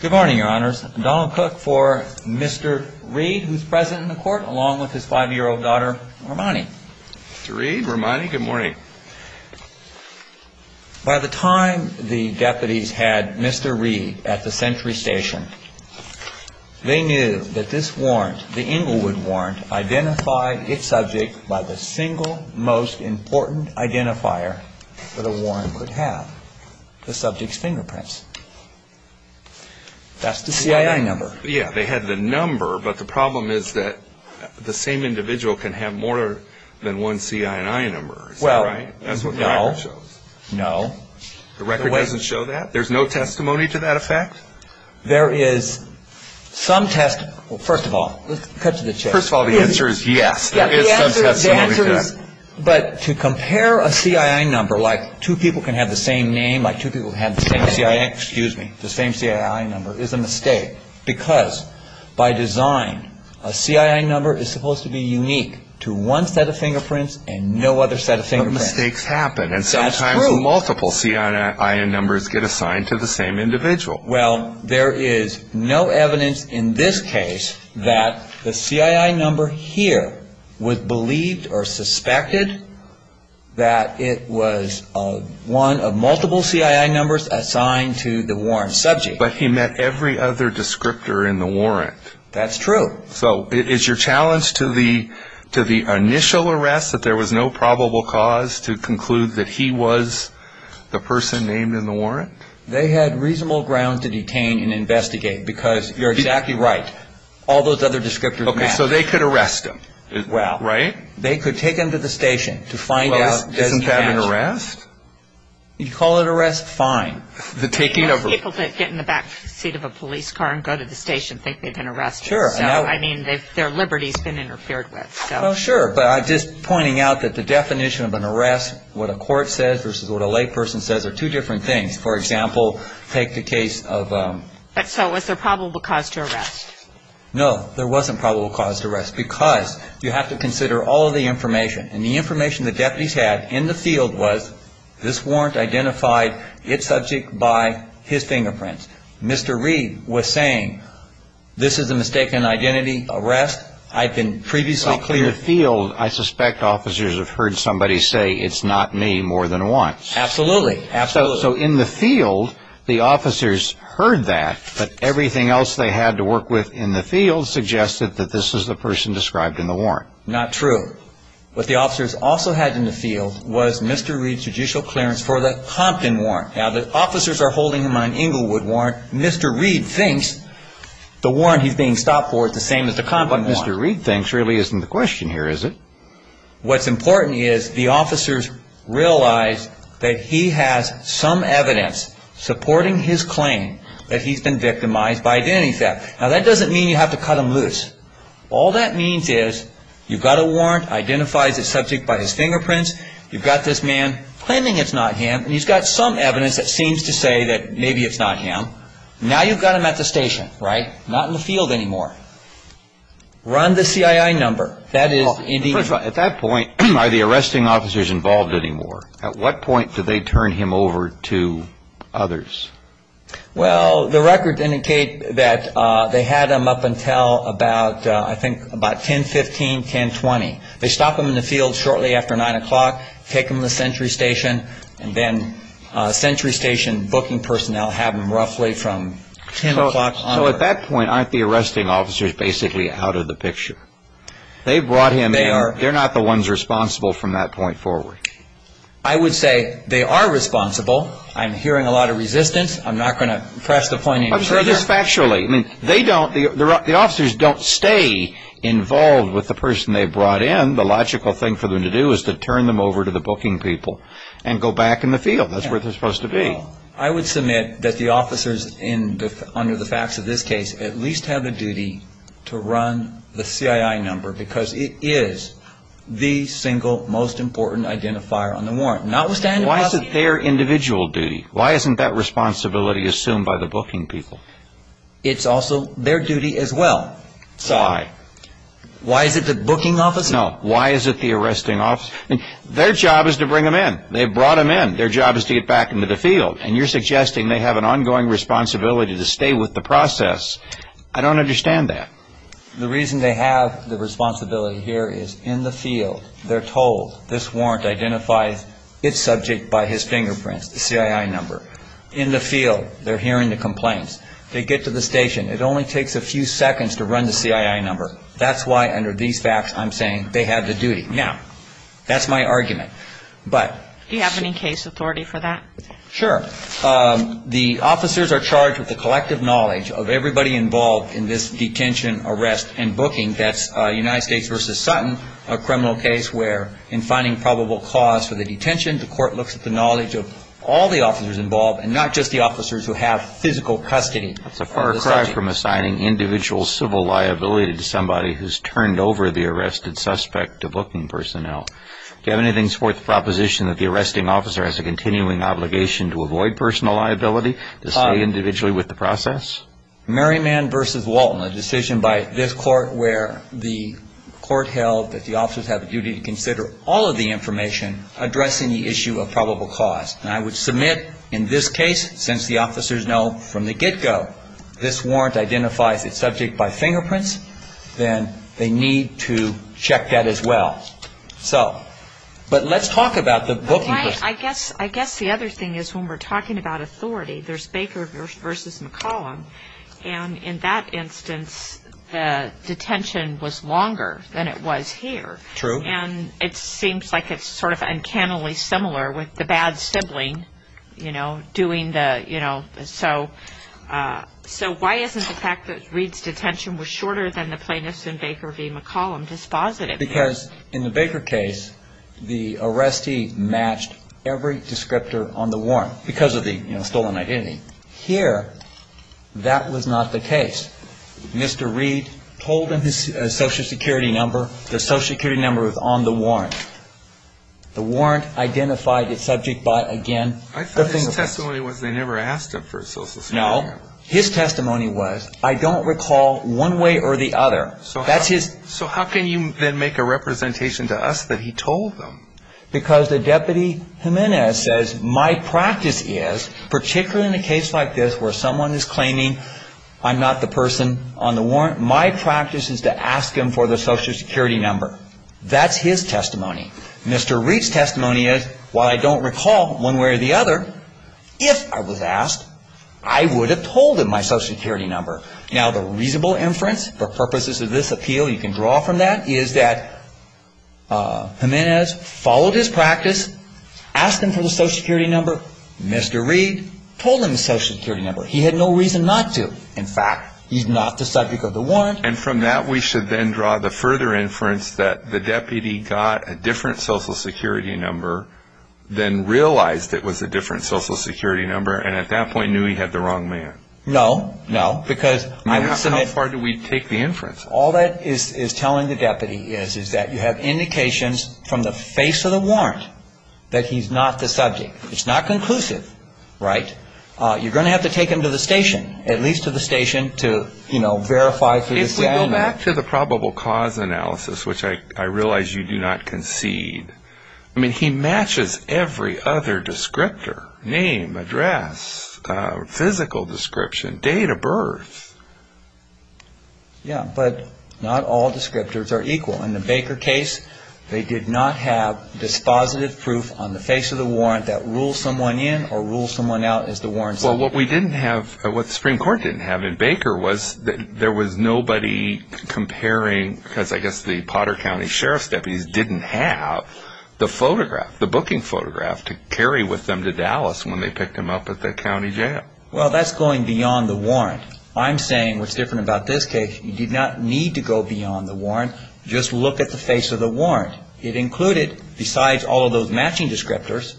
Good morning, your honors. Donald Cook for Mr. Reed, who's present in the court, along with his five-year-old daughter, Romani. Mr. Reed, Romani, good morning. By the time the deputies had Mr. Reed at the Sentry Station, they knew that this warrant, the Inglewood warrant, identified its subject by the single most important identifier that a warrant would have, the subject's fingerprints. That's the CII number. Yeah, they had the number, but the problem is that the same individual can have more than one CII number, is that right? Well, no, no. The record doesn't show that? There's no testimony to that effect? There is some testimony. Well, first of all, let's cut to the chase. First of all, the answer is yes, there is some testimony to that. But to compare a CII number, like two people can have the same name, like two people have the same CII number, is a mistake. Because by design, a CII number is supposed to be unique to one set of fingerprints and no other set of fingerprints. But mistakes happen, and sometimes multiple CII numbers get assigned to the same individual. Well, there is no evidence in this case that the CII number here was believed or suspected that it was one of multiple CII numbers assigned to the warrant subject. But he met every other descriptor in the warrant. That's true. So is your challenge to the initial arrest that there was no probable cause to conclude that he was the person named in the warrant? They had reasonable grounds to detain and investigate, because you're exactly right. All those other descriptors matter. Okay. So they could arrest him. Well. Right? They could take him to the station to find out. Well, isn't that an arrest? You call it arrest? Fine. The taking of him. People that get in the back seat of a police car and go to the station think they've been arrested. Sure. I mean, their liberty has been interfered with. Well, sure. But I'm just pointing out that the definition of an arrest, what a court says versus what a layperson says, are two different things. For example, take the case of ‑‑ So was there probable cause to arrest? No, there wasn't probable cause to arrest, because you have to consider all of the information. And the information the deputies had in the field was this warrant identified its subject by his fingerprints. Mr. Reed was saying this is a mistaken identity arrest. In the field, I suspect officers have heard somebody say it's not me more than once. Absolutely. Absolutely. So in the field, the officers heard that, but everything else they had to work with in the field suggested that this is the person described in the warrant. Not true. What the officers also had in the field was Mr. Reed's judicial clearance for the Compton warrant. Now, the officers are holding him on an Inglewood warrant. Mr. Reed thinks the warrant he's being stopped for is the same as the Compton warrant. What Mr. Reed thinks really isn't the question here, is it? What's important is the officers realize that he has some evidence supporting his claim that he's been victimized by identity theft. Now, that doesn't mean you have to cut him loose. All that means is you've got a warrant, identifies its subject by his fingerprints, you've got this man claiming it's not him, and he's got some evidence that seems to say that maybe it's not him. Now you've got him at the station, right? Not in the field anymore. Run the CII number. First of all, at that point, are the arresting officers involved anymore? At what point do they turn him over to others? Well, the records indicate that they had him up until about, I think, about 10.15, 10.20. They stop him in the field shortly after 9 o'clock, take him to the Sentry Station, and then Sentry Station booking personnel have him roughly from 10 o'clock onward. So at that point, aren't the arresting officers basically out of the picture? They brought him in. They're not the ones responsible from that point forward. I would say they are responsible. I'm hearing a lot of resistance. I'm not going to press the point any further. The officers don't stay involved with the person they brought in. The logical thing for them to do is to turn them over to the booking people and go back in the field. That's where they're supposed to be. I would submit that the officers under the facts of this case at least have a duty to run the CII number because it is the single most important identifier on the warrant. Why is it their individual duty? Why isn't that responsibility assumed by the booking people? It's also their duty as well. Why? Why is it the booking officers? No. Why is it the arresting officers? Their job is to bring him in. They brought him in. Their job is to get back into the field. And you're suggesting they have an ongoing responsibility to stay with the process. I don't understand that. The reason they have the responsibility here is in the field, they're told, this warrant identifies its subject by his fingerprints, the CII number. In the field, they're hearing the complaints. They get to the station. It only takes a few seconds to run the CII number. That's why under these facts I'm saying they have the duty. Now, that's my argument. Do you have any case authority for that? Sure. The officers are charged with the collective knowledge of everybody involved in this detention, arrest, and booking. That's United States v. Sutton, a criminal case where in finding probable cause for the detention, the court looks at the knowledge of all the officers involved and not just the officers who have physical custody of the subject. That's a far cry from assigning individual civil liability to somebody who's turned over the arrested suspect to booking personnel. Do you have anything to support the proposition that the arresting officer has a continuing obligation to avoid personal liability, to stay individually with the process? Merriman v. Walton, a decision by this court where the court held that the officers have a duty to consider all of the information addressing the issue of probable cause. And I would submit in this case since the officers know from the get-go this warrant identifies its subject by fingerprints, then they need to check that as well. So, but let's talk about the booking person. I guess the other thing is when we're talking about authority, there's Baker v. McCollum, and in that instance the detention was longer than it was here. True. And it seems like it's sort of uncannily similar with the bad sibling, you know, doing the, you know. So why isn't the fact that Reed's detention was shorter than the plaintiff's in Baker v. McCollum dispositive? Because in the Baker case, the arrestee matched every descriptor on the warrant because of the, you know, stolen identity. Here, that was not the case. Mr. Reed told him his Social Security number. The Social Security number was on the warrant. The warrant identified its subject by, again, the fingerprints. I thought his testimony was they never asked him for his Social Security number. No. His testimony was, I don't recall one way or the other. So how can you then make a representation to us that he told them? Because the Deputy Jimenez says my practice is, particularly in a case like this where someone is claiming I'm not the person on the warrant, my practice is to ask him for the Social Security number. That's his testimony. Mr. Reed's testimony is, while I don't recall one way or the other, if I was asked, I would have told him my Social Security number. Now, the reasonable inference for purposes of this appeal, you can draw from that, is that Jimenez followed his practice, asked him for the Social Security number. Mr. Reed told him the Social Security number. He had no reason not to. In fact, he's not the subject of the warrant. And from that, we should then draw the further inference that the Deputy got a different Social Security number than realized it was a different Social Security number, and at that point knew he had the wrong man. No, no. How far do we take the inference? All that is telling the Deputy is that you have indications from the face of the warrant that he's not the subject. It's not conclusive, right? You're going to have to take him to the station, at least to the station to verify. If we go back to the probable cause analysis, which I realize you do not concede, I mean, he matches every other descriptor, name, address, physical description, date of birth. Yeah, but not all descriptors are equal. In the Baker case, they did not have dispositive proof on the face of the warrant that rules someone in or rules someone out as the warrant subject. Well, what we didn't have, what the Supreme Court didn't have in Baker was that there was nobody comparing, because I guess the Potter County Sheriff's deputies didn't have the photograph, the booking photograph, to carry with them to Dallas when they picked him up at the county jail. Well, that's going beyond the warrant. I'm saying what's different about this case, you did not need to go beyond the warrant. Just look at the face of the warrant. It included, besides all of those matching descriptors,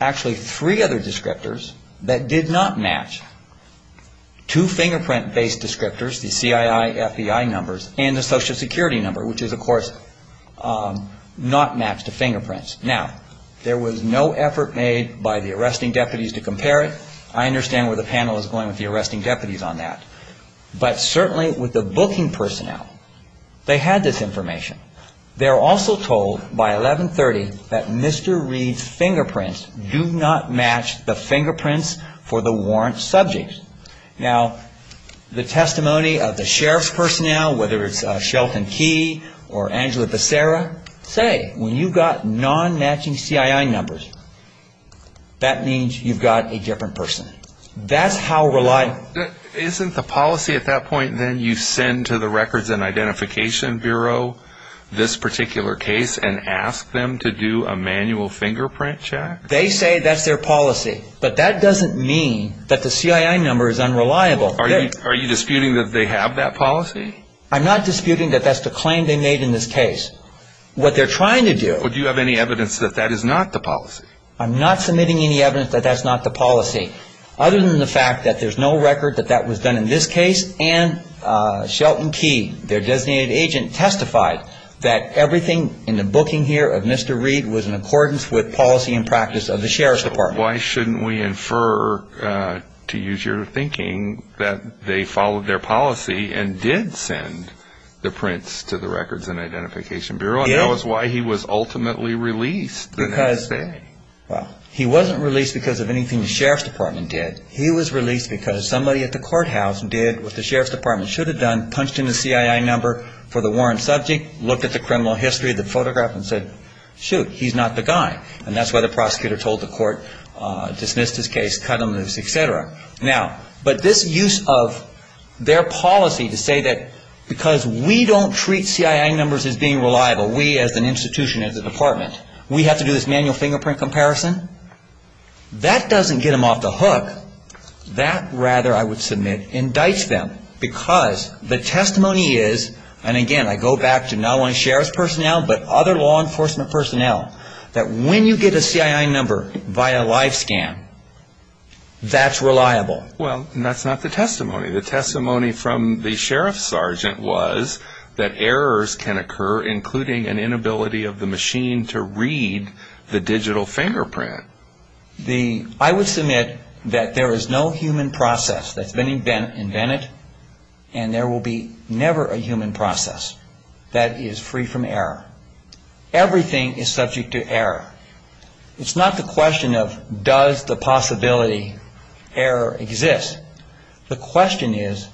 actually three other descriptors that did not match. Two fingerprint-based descriptors, the CII-FBI numbers and the Social Security number, which is, of course, not matched to fingerprints. Now, there was no effort made by the arresting deputies to compare it. I understand where the panel is going with the arresting deputies on that. But certainly with the booking personnel, they had this information. They're also told by 1130 that Mr. Reed's fingerprints do not match the fingerprints for the warrant subject. Now, the testimony of the sheriff's personnel, whether it's Shelton Key or Angela Becerra, say, when you've got non-matching CII numbers, that means you've got a different person. Isn't the policy at that point, then, you send to the Records and Identification Bureau this particular case and ask them to do a manual fingerprint check? They say that's their policy. But that doesn't mean that the CII number is unreliable. Are you disputing that they have that policy? I'm not disputing that that's the claim they made in this case. What they're trying to do... Do you have any evidence that that is not the policy? I'm not submitting any evidence that that's not the policy. Other than the fact that there's no record that that was done in this case and Shelton Key, their designated agent, testified that everything in the booking here of Mr. Reed was in accordance with policy and practice of the Sheriff's Department. Why shouldn't we infer, to use your thinking, that they followed their policy and did send the prints to the Records and Identification Bureau? And that was why he was ultimately released the next day. Well, he wasn't released because of anything the Sheriff's Department did. He was released because somebody at the courthouse did what the Sheriff's Department should have done, punched in the CII number for the warrant subject, looked at the criminal history of the photograph and said, shoot, he's not the guy. And that's why the prosecutor told the court, dismissed his case, cut him loose, et cetera. Now, but this use of their policy to say that because we don't treat CII numbers as being reliable, we as an institution, as a department, we have to do this manual fingerprint comparison, that doesn't get them off the hook. That, rather, I would submit, indicts them because the testimony is, and again, I go back to not only Sheriff's personnel but other law enforcement personnel, that when you get a CII number via live scan, that's reliable. Well, that's not the testimony. The testimony from the sheriff's sergeant was that errors can occur, including an inability of the machine to read the digital fingerprint. I would submit that there is no human process that's been invented and there will be never a human process that is free from error. Everything is subject to error. It's not the question of does the possibility of error exist. The question is,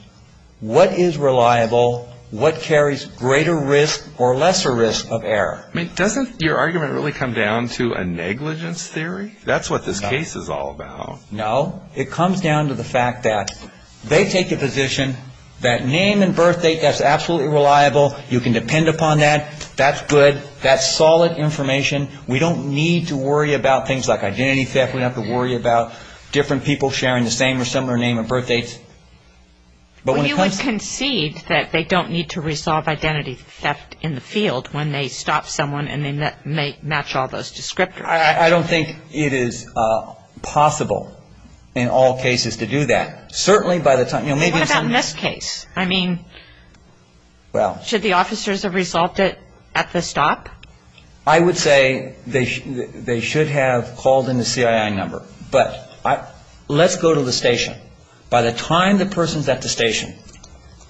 what is reliable? What carries greater risk or lesser risk of error? I mean, doesn't your argument really come down to a negligence theory? That's what this case is all about. No. It comes down to the fact that they take a position that name and birth date, that's absolutely reliable. You can depend upon that. That's good. That's solid information. We don't need to worry about things like identity theft. We don't have to worry about different people sharing the same or similar name and birth dates. Well, you would concede that they don't need to resolve identity theft in the field when they stop someone and they match all those descriptors. I don't think it is possible in all cases to do that. Certainly by the time, you know, maybe in some cases. What about in this case? I mean, should the officers have resolved it at the stop? I would say they should have called in the CII number. But let's go to the station. By the time the person's at the station,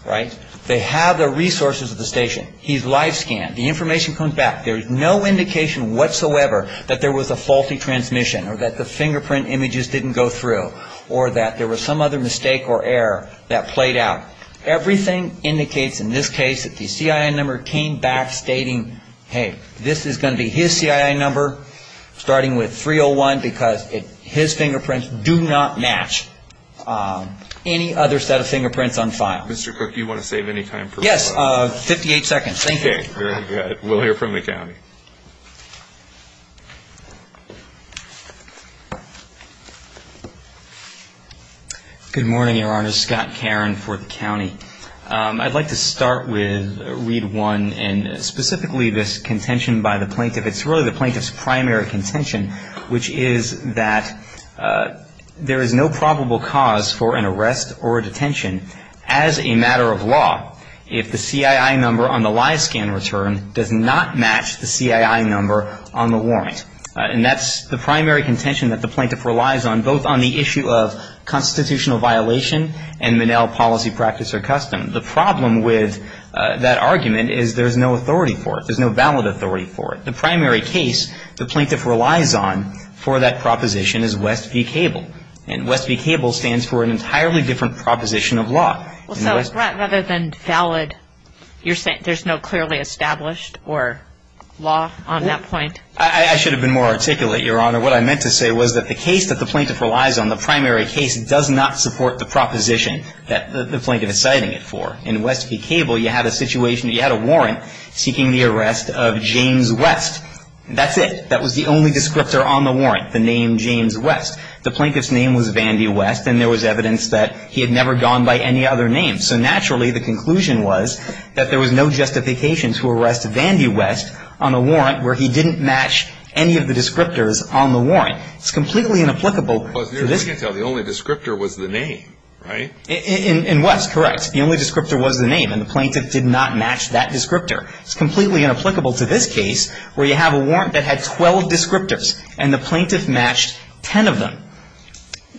right, they have the resources of the station. He's live scanned. The information comes back. There is no indication whatsoever that there was a faulty transmission or that the fingerprint images didn't go through or that there was some other mistake or error that played out. Everything indicates in this case that the CII number came back stating, hey, this is going to be his CII number starting with 301 because his fingerprints do not match any other set of fingerprints on file. Mr. Cooke, do you want to save any time? Yes, 58 seconds. Thank you. Okay, very good. We'll hear from the county. Good morning, Your Honor. Scott Caron for the county. I'd like to start with Read 1 and specifically this contention by the plaintiff. It's really the plaintiff's primary contention, which is that there is no probable cause for an arrest or a detention. As a matter of law, if the CII number on the live scan return does not match the CII number, on the warrant. And that's the primary contention that the plaintiff relies on, both on the issue of constitutional violation and Minnell policy, practice, or custom. The problem with that argument is there's no authority for it. There's no valid authority for it. The primary case the plaintiff relies on for that proposition is West v. Cable. And West v. Cable stands for an entirely different proposition of law. Rather than valid, you're saying there's no clearly established or law on that point? I should have been more articulate, Your Honor. What I meant to say was that the case that the plaintiff relies on, the primary case, does not support the proposition that the plaintiff is citing it for. In West v. Cable, you had a warrant seeking the arrest of James West. That's it. That was the only descriptor on the warrant, the name James West. The plaintiff's name was Vandy West, and there was evidence that he had never gone by any other name. So naturally, the conclusion was that there was no justification to arrest Vandy West on a warrant where he didn't match any of the descriptors on the warrant. It's completely inapplicable to this case. Plus, we can tell the only descriptor was the name, right? In West, correct. The only descriptor was the name, and the plaintiff did not match that descriptor. It's completely inapplicable to this case where you have a warrant that had 12 descriptors, and the plaintiff matched 10 of them.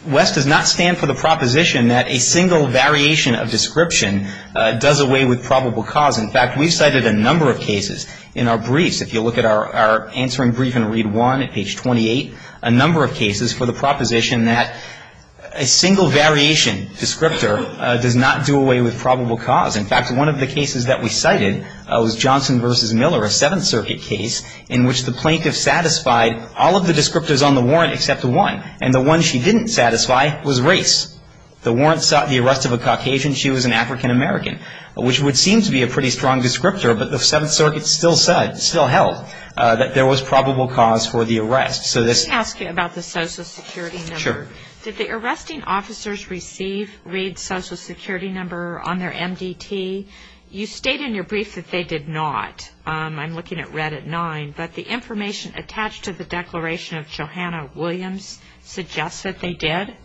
West does not stand for the proposition that a single variation of description does away with probable cause. In fact, we've cited a number of cases in our briefs. If you look at our answering brief in Read I at page 28, a number of cases for the proposition that a single variation descriptor does not do away with probable cause. In fact, one of the cases that we cited was Johnson v. Miller, a Seventh Circuit case in which the plaintiff satisfied all of the descriptors on the warrant except one, and the one she didn't satisfy was race. The warrant sought the arrest of a Caucasian. She was an African American, which would seem to be a pretty strong descriptor, but the Seventh Circuit still held that there was probable cause for the arrest. Let me ask you about the Social Security number. Sure. Did the arresting officers receive Read's Social Security number on their MDT? You state in your brief that they did not. I'm looking at Read at 9. But the information attached to the declaration of Johanna Williams suggests that they did?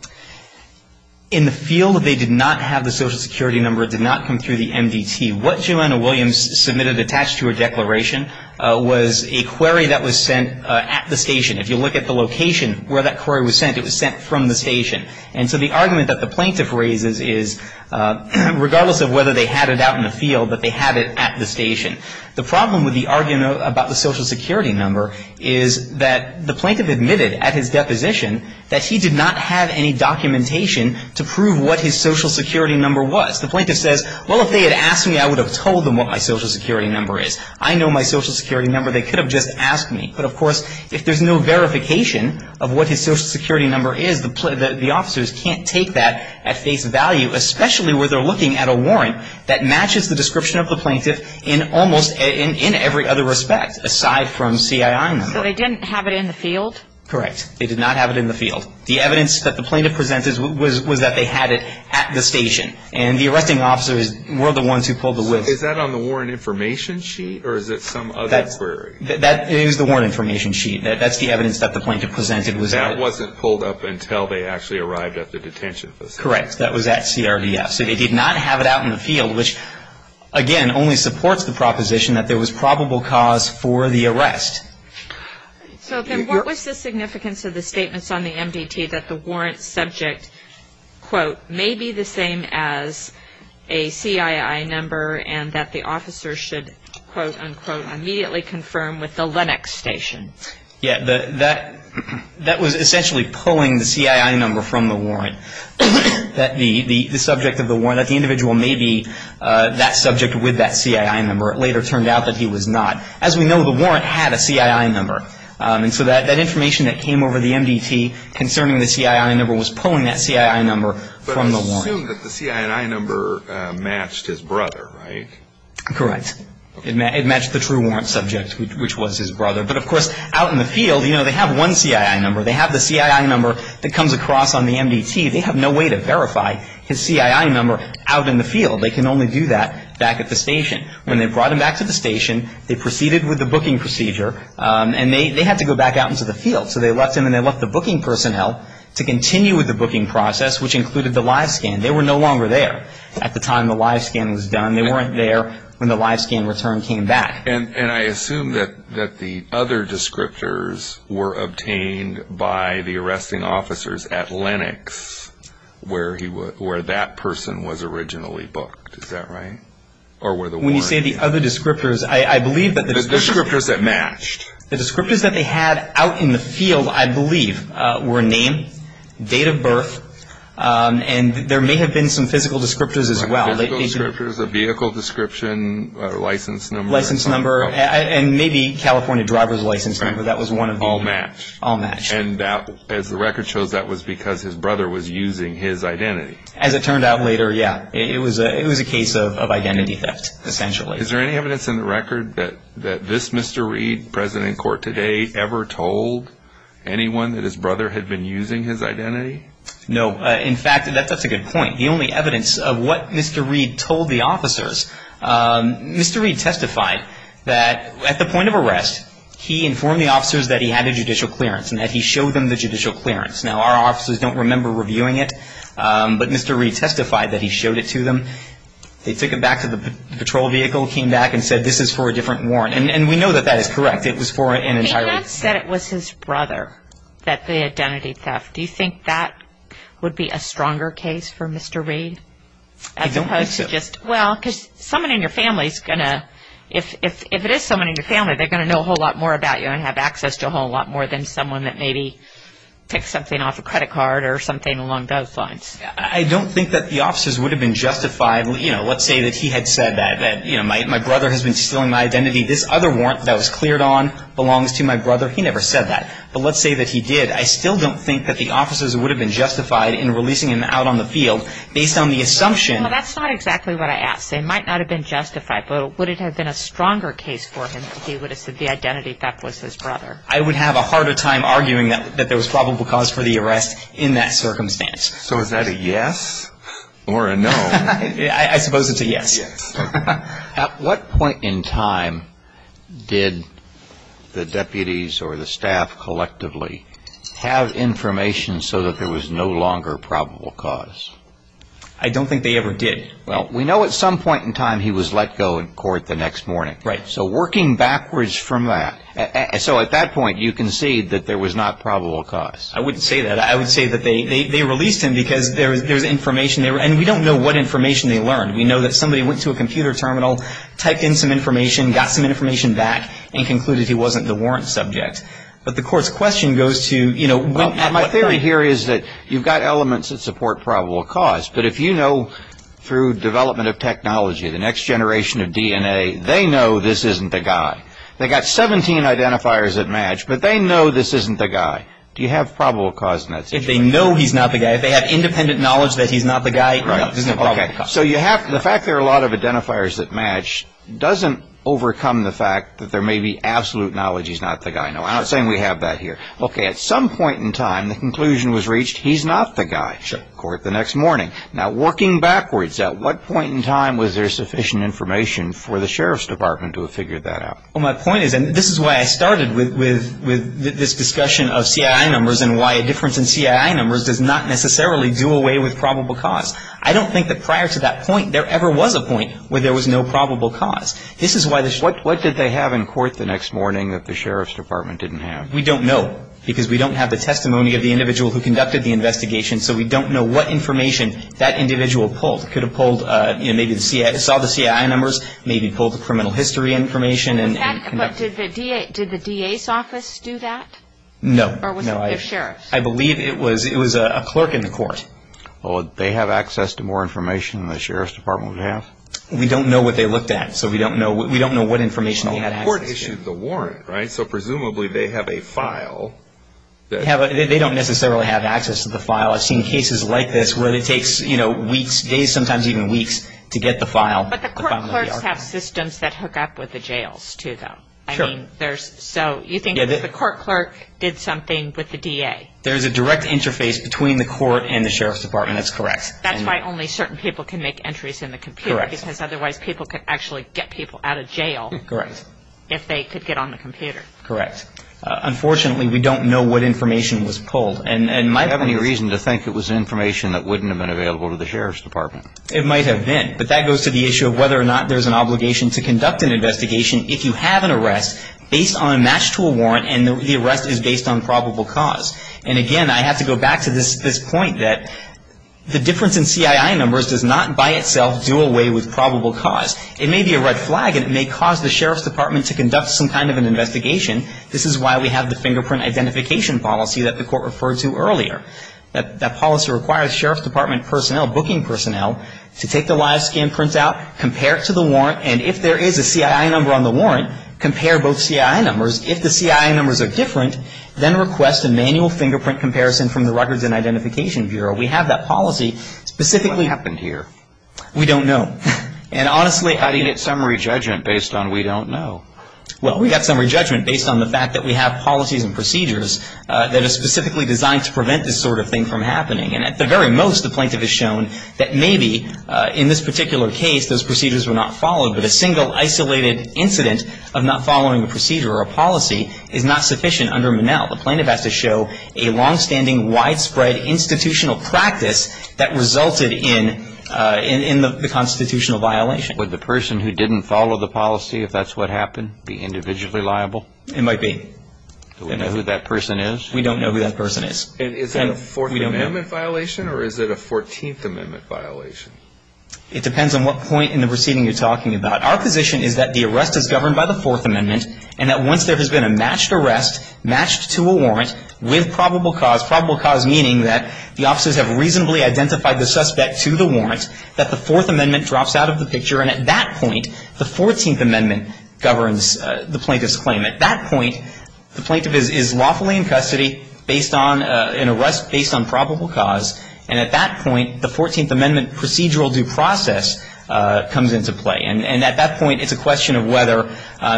In the field, they did not have the Social Security number. It did not come through the MDT. What Johanna Williams submitted attached to her declaration was a query that was sent at the station. If you look at the location where that query was sent, it was sent from the station. And so the argument that the plaintiff raises is, regardless of whether they had it out in the field, that they had it at the station. The problem with the argument about the Social Security number is that the plaintiff admitted at his deposition that he did not have any documentation to prove what his Social Security number was. The plaintiff says, well, if they had asked me, I would have told them what my Social Security number is. I know my Social Security number. They could have just asked me. But, of course, if there's no verification of what his Social Security number is, the officers can't take that at face value, especially where they're looking at a warrant that matches the description of the plaintiff in almost every other respect, aside from CII number. So they didn't have it in the field? Correct. They did not have it in the field. The evidence that the plaintiff presented was that they had it at the station. And the arresting officers were the ones who pulled the whiz. Is that on the warrant information sheet, or is it some other query? That is the warrant information sheet. That's the evidence that the plaintiff presented. That wasn't pulled up until they actually arrived at the detention facility? Correct. That was at CRDF. So they did not have it out in the field, which, again, only supports the proposition that there was probable cause for the arrest. So then what was the significance of the statements on the MDT that the warrant subject, quote, may be the same as a CII number and that the officers should, quote, unquote, immediately confirm with the Lenox station? Yeah. That was essentially pulling the CII number from the warrant, that the subject of the warrant, that the individual may be that subject with that CII number. It later turned out that he was not. As we know, the warrant had a CII number. And so that information that came over the MDT concerning the CII number was pulling that CII number from the warrant. But assume that the CII number matched his brother, right? Correct. It matched the true warrant subject, which was his brother. But, of course, out in the field, you know, they have one CII number. They have the CII number that comes across on the MDT. They have no way to verify his CII number out in the field. They can only do that back at the station. When they brought him back to the station, they proceeded with the booking procedure, and they had to go back out into the field. So they left him and they left the booking personnel to continue with the booking process, which included the live scan. They were no longer there at the time the live scan was done. They weren't there when the live scan return came back. And I assume that the other descriptors were obtained by the arresting officers at Lenox, where that person was originally booked. Is that right? When you say the other descriptors, I believe that the descriptors that matched. The descriptors that they had out in the field, I believe, were name, date of birth, and there may have been some physical descriptors as well. Physical descriptors, a vehicle description, a license number. And maybe California driver's license number. That was one of the... All match. All match. And as the record shows, that was because his brother was using his identity. As it turned out later, yeah. It was a case of identity theft, essentially. Is there any evidence in the record that this Mr. Reed, present in court today, ever told anyone that his brother had been using his identity? No. In fact, that's a good point. The only evidence of what Mr. Reed told the officers, Mr. Reed testified that, at the point of arrest, he informed the officers that he had a judicial clearance and that he showed them the judicial clearance. Now, our officers don't remember reviewing it, but Mr. Reed testified that he showed it to them. They took him back to the patrol vehicle, came back, and said, this is for a different warrant. And we know that that is correct. It was for an entire... He then said it was his brother, that the identity theft. Do you think that would be a stronger case for Mr. Reed? I don't think so. Well, because someone in your family is going to... If it is someone in your family, they're going to know a whole lot more about you and have access to a whole lot more than someone that maybe took something off a credit card or something along those lines. I don't think that the officers would have been justified. Let's say that he had said that my brother has been stealing my identity. This other warrant that was cleared on belongs to my brother. He never said that. But let's say that he did. I still don't think that the officers would have been justified in releasing him out on the field based on the assumption... Well, that's not exactly what I asked. They might not have been justified. But would it have been a stronger case for him if he would have said the identity theft was his brother? I would have a harder time arguing that there was probable cause for the arrest in that circumstance. So is that a yes or a no? I suppose it's a yes. At what point in time did the deputies or the staff collectively have information so that there was no longer probable cause? I don't think they ever did. Well, we know at some point in time he was let go in court the next morning. Right. So working backwards from that. So at that point you concede that there was not probable cause. I wouldn't say that. I would say that they released him because there was information there. And we don't know what information they learned. We know that somebody went to a computer terminal, typed in some information, got some information back, and concluded he wasn't the warrant subject. But the court's question goes to... My theory here is that you've got elements that support probable cause, but if you know through development of technology, the next generation of DNA, they know this isn't the guy. They've got 17 identifiers that match, but they know this isn't the guy. Do you have probable cause in that situation? If they know he's not the guy, if they have independent knowledge that he's not the guy, no, this isn't probable cause. So the fact there are a lot of identifiers that match doesn't overcome the fact that there may be absolute knowledge he's not the guy. No, I'm not saying we have that here. Okay. At some point in time, the conclusion was reached, he's not the guy. Sure. Court the next morning. Now, working backwards, at what point in time was there sufficient information for the Sheriff's Department to have figured that out? Well, my point is, and this is why I started with this discussion of CII numbers and why a difference in CII numbers does not necessarily do away with probable cause. I don't think that prior to that point there ever was a point where there was no probable cause. This is why the... What did they have in court the next morning that the Sheriff's Department didn't have? We don't know because we don't have the testimony of the individual who conducted the investigation, so we don't know what information that individual pulled. Could have pulled, you know, maybe saw the CII numbers, maybe pulled the criminal history information and... But did the DA's office do that? No. Or was it the Sheriff's? I believe it was a clerk in the court. Well, would they have access to more information than the Sheriff's Department would have? The court issued the warrant, right? So presumably they have a file. They don't necessarily have access to the file. I've seen cases like this where it takes, you know, weeks, days, sometimes even weeks to get the file. But the court clerks have systems that hook up with the jails, too, though. I mean, there's... So you think that the court clerk did something with the DA? There's a direct interface between the court and the Sheriff's Department. That's why only certain people can make entries in the computer... Correct. ...because otherwise people could actually get people out of jail... Correct. ...if they could get on the computer. Correct. Unfortunately, we don't know what information was pulled. And my... Do you have any reason to think it was information that wouldn't have been available to the Sheriff's Department? It might have been. But that goes to the issue of whether or not there's an obligation to conduct an investigation if you have an arrest based on a match to a warrant and the arrest is based on probable cause. And, again, I have to go back to this point that the difference in CII numbers does not by itself do away with probable cause. It may be a red flag and it may cause the Sheriff's Department to conduct some kind of an investigation. This is why we have the fingerprint identification policy that the court referred to earlier. That policy requires Sheriff's Department personnel, booking personnel, to take the live scan printout, compare it to the warrant, and if there is a CII number on the warrant, compare both CII numbers. If the CII numbers are different, then request a manual fingerprint comparison from the Records and Identification Bureau. We have that policy specifically. What happened here? We don't know. And, honestly, how do you get summary judgment based on we don't know? Well, we got summary judgment based on the fact that we have policies and procedures that are specifically designed to prevent this sort of thing from happening. And at the very most, the plaintiff has shown that maybe in this particular case those procedures were not followed, but a single isolated incident of not following a procedure or a policy is not sufficient under Monell. The plaintiff has to show a longstanding, widespread institutional practice that resulted in the constitutional violation. Would the person who didn't follow the policy, if that's what happened, be individually liable? It might be. Do we know who that person is? We don't know who that person is. Is that a Fourth Amendment violation or is it a Fourteenth Amendment violation? It depends on what point in the proceeding you're talking about. Our position is that the arrest is governed by the Fourth Amendment and that once there has been a matched arrest, matched to a warrant, with probable cause, probable cause meaning that the officers have reasonably identified the suspect to the warrant, that the Fourth Amendment drops out of the picture. And at that point, the Fourteenth Amendment governs the plaintiff's claim. At that point, the plaintiff is lawfully in custody based on an arrest based on probable cause. And at that point, the Fourteenth Amendment procedural due process comes into play. And at that point, it's a question of whether,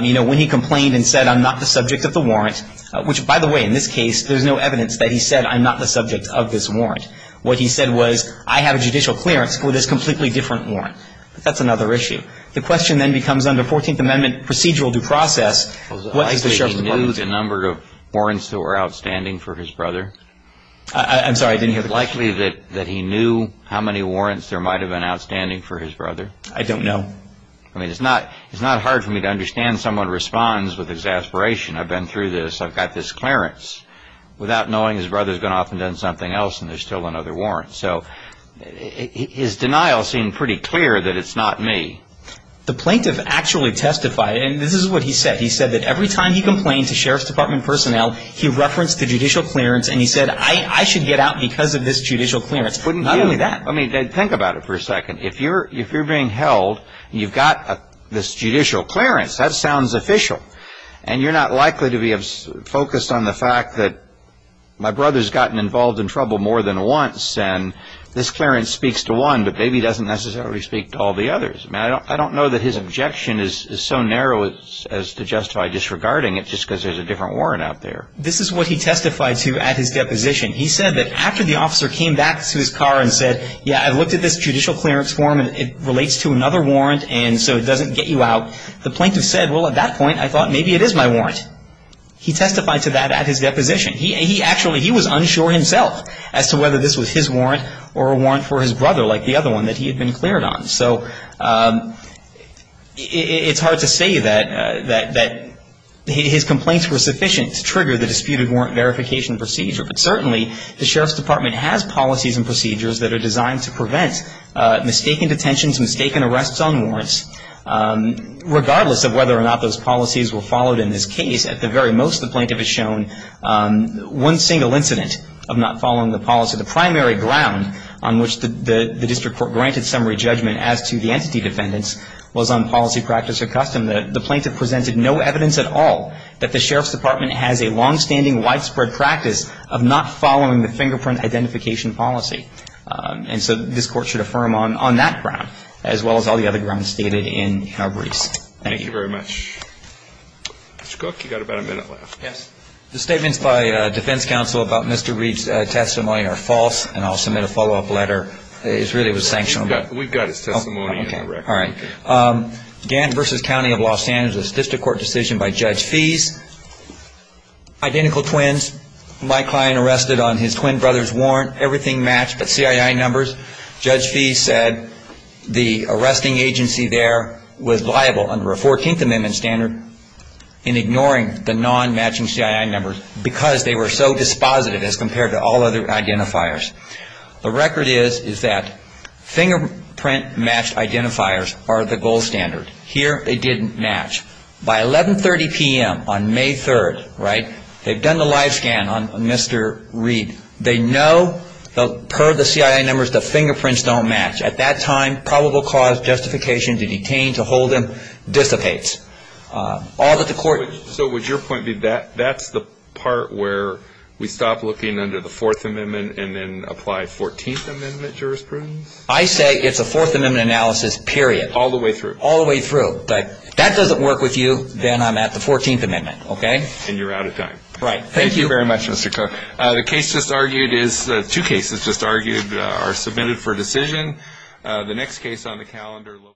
you know, when he complained and said, I'm not the subject of the warrant, which, by the way, in this case, there's no evidence that he said, I'm not the subject of this warrant. What he said was, I have a judicial clearance for this completely different warrant. But that's another issue. The question then becomes under Fourteenth Amendment procedural due process, what does the sheriff's department say? Was it likely he knew the number of warrants that were outstanding for his brother? I'm sorry, I didn't hear the question. Was it likely that he knew how many warrants there might have been outstanding for his brother? I don't know. I mean, it's not hard for me to understand someone responds with exasperation. I've been through this. I've got this clearance. Without knowing, his brother's been off and done something else, and there's still another warrant. So his denial seemed pretty clear that it's not me. The plaintiff actually testified, and this is what he said. He said that every time he complained to sheriff's department personnel, he referenced the judicial clearance, and he said, I should get out because of this judicial clearance. Wouldn't he? Not only that. I mean, think about it for a second. If you're being held, you've got this judicial clearance. That sounds official. And you're not likely to be focused on the fact that my brother's gotten involved in trouble more than once, and this clearance speaks to one, but maybe it doesn't necessarily speak to all the others. I mean, I don't know that his objection is so narrow as to justify disregarding it just because there's a different warrant out there. This is what he testified to at his deposition. He said that after the officer came back to his car and said, yeah, I looked at this judicial clearance form, and it relates to another warrant, and so it doesn't get you out. The plaintiff said, well, at that point, I thought maybe it is my warrant. He testified to that at his deposition. He actually, he was unsure himself as to whether this was his warrant or a warrant for his brother like the other one that he had been cleared on. So it's hard to say that his complaints were sufficient to trigger the disputed warrant verification procedure. But certainly, the Sheriff's Department has policies and procedures that are designed to prevent mistaken detentions, mistaken arrests on warrants. Regardless of whether or not those policies were followed in this case, at the very most, the plaintiff has shown one single incident of not following the policy. The primary ground on which the district court granted summary judgment as to the entity defendants was on policy, practice, or custom. The plaintiff presented no evidence at all that the Sheriff's Department has a longstanding widespread practice of not following the fingerprint identification policy. And so this court should affirm on that ground, as well as all the other grounds stated in our briefs. Thank you. Thank you very much. Mr. Cook, you've got about a minute left. Yes. The statements by defense counsel about Mr. Reed's testimony are false, and I'll submit a follow-up letter. It really was sanctioned. We've got his testimony in the record. All right. Gant v. County of Los Angeles, a district court decision by Judge Fees. Identical twins. My client arrested on his twin brother's warrant. Everything matched but CII numbers. Judge Fees said the arresting agency there was liable under a 14th Amendment standard in ignoring the non-matching CII numbers because they were so dispositive as compared to all other identifiers. The record is that fingerprint matched identifiers are the gold standard. Here they didn't match. By 1130 p.m. on May 3rd, right, they've done the live scan on Mr. Reed. They know per the CII numbers the fingerprints don't match. At that time, probable cause justification to detain, to hold him dissipates. So would your point be that that's the part where we stop looking under the 4th Amendment and then apply 14th Amendment jurisprudence? I say it's a 4th Amendment analysis, period. All the way through. All the way through. If that doesn't work with you, then I'm at the 14th Amendment, okay? And you're out of time. Right. Thank you. Thank you very much, Mr. Cook. The case just argued is the two cases just argued are submitted for decision. The next case on the calendar.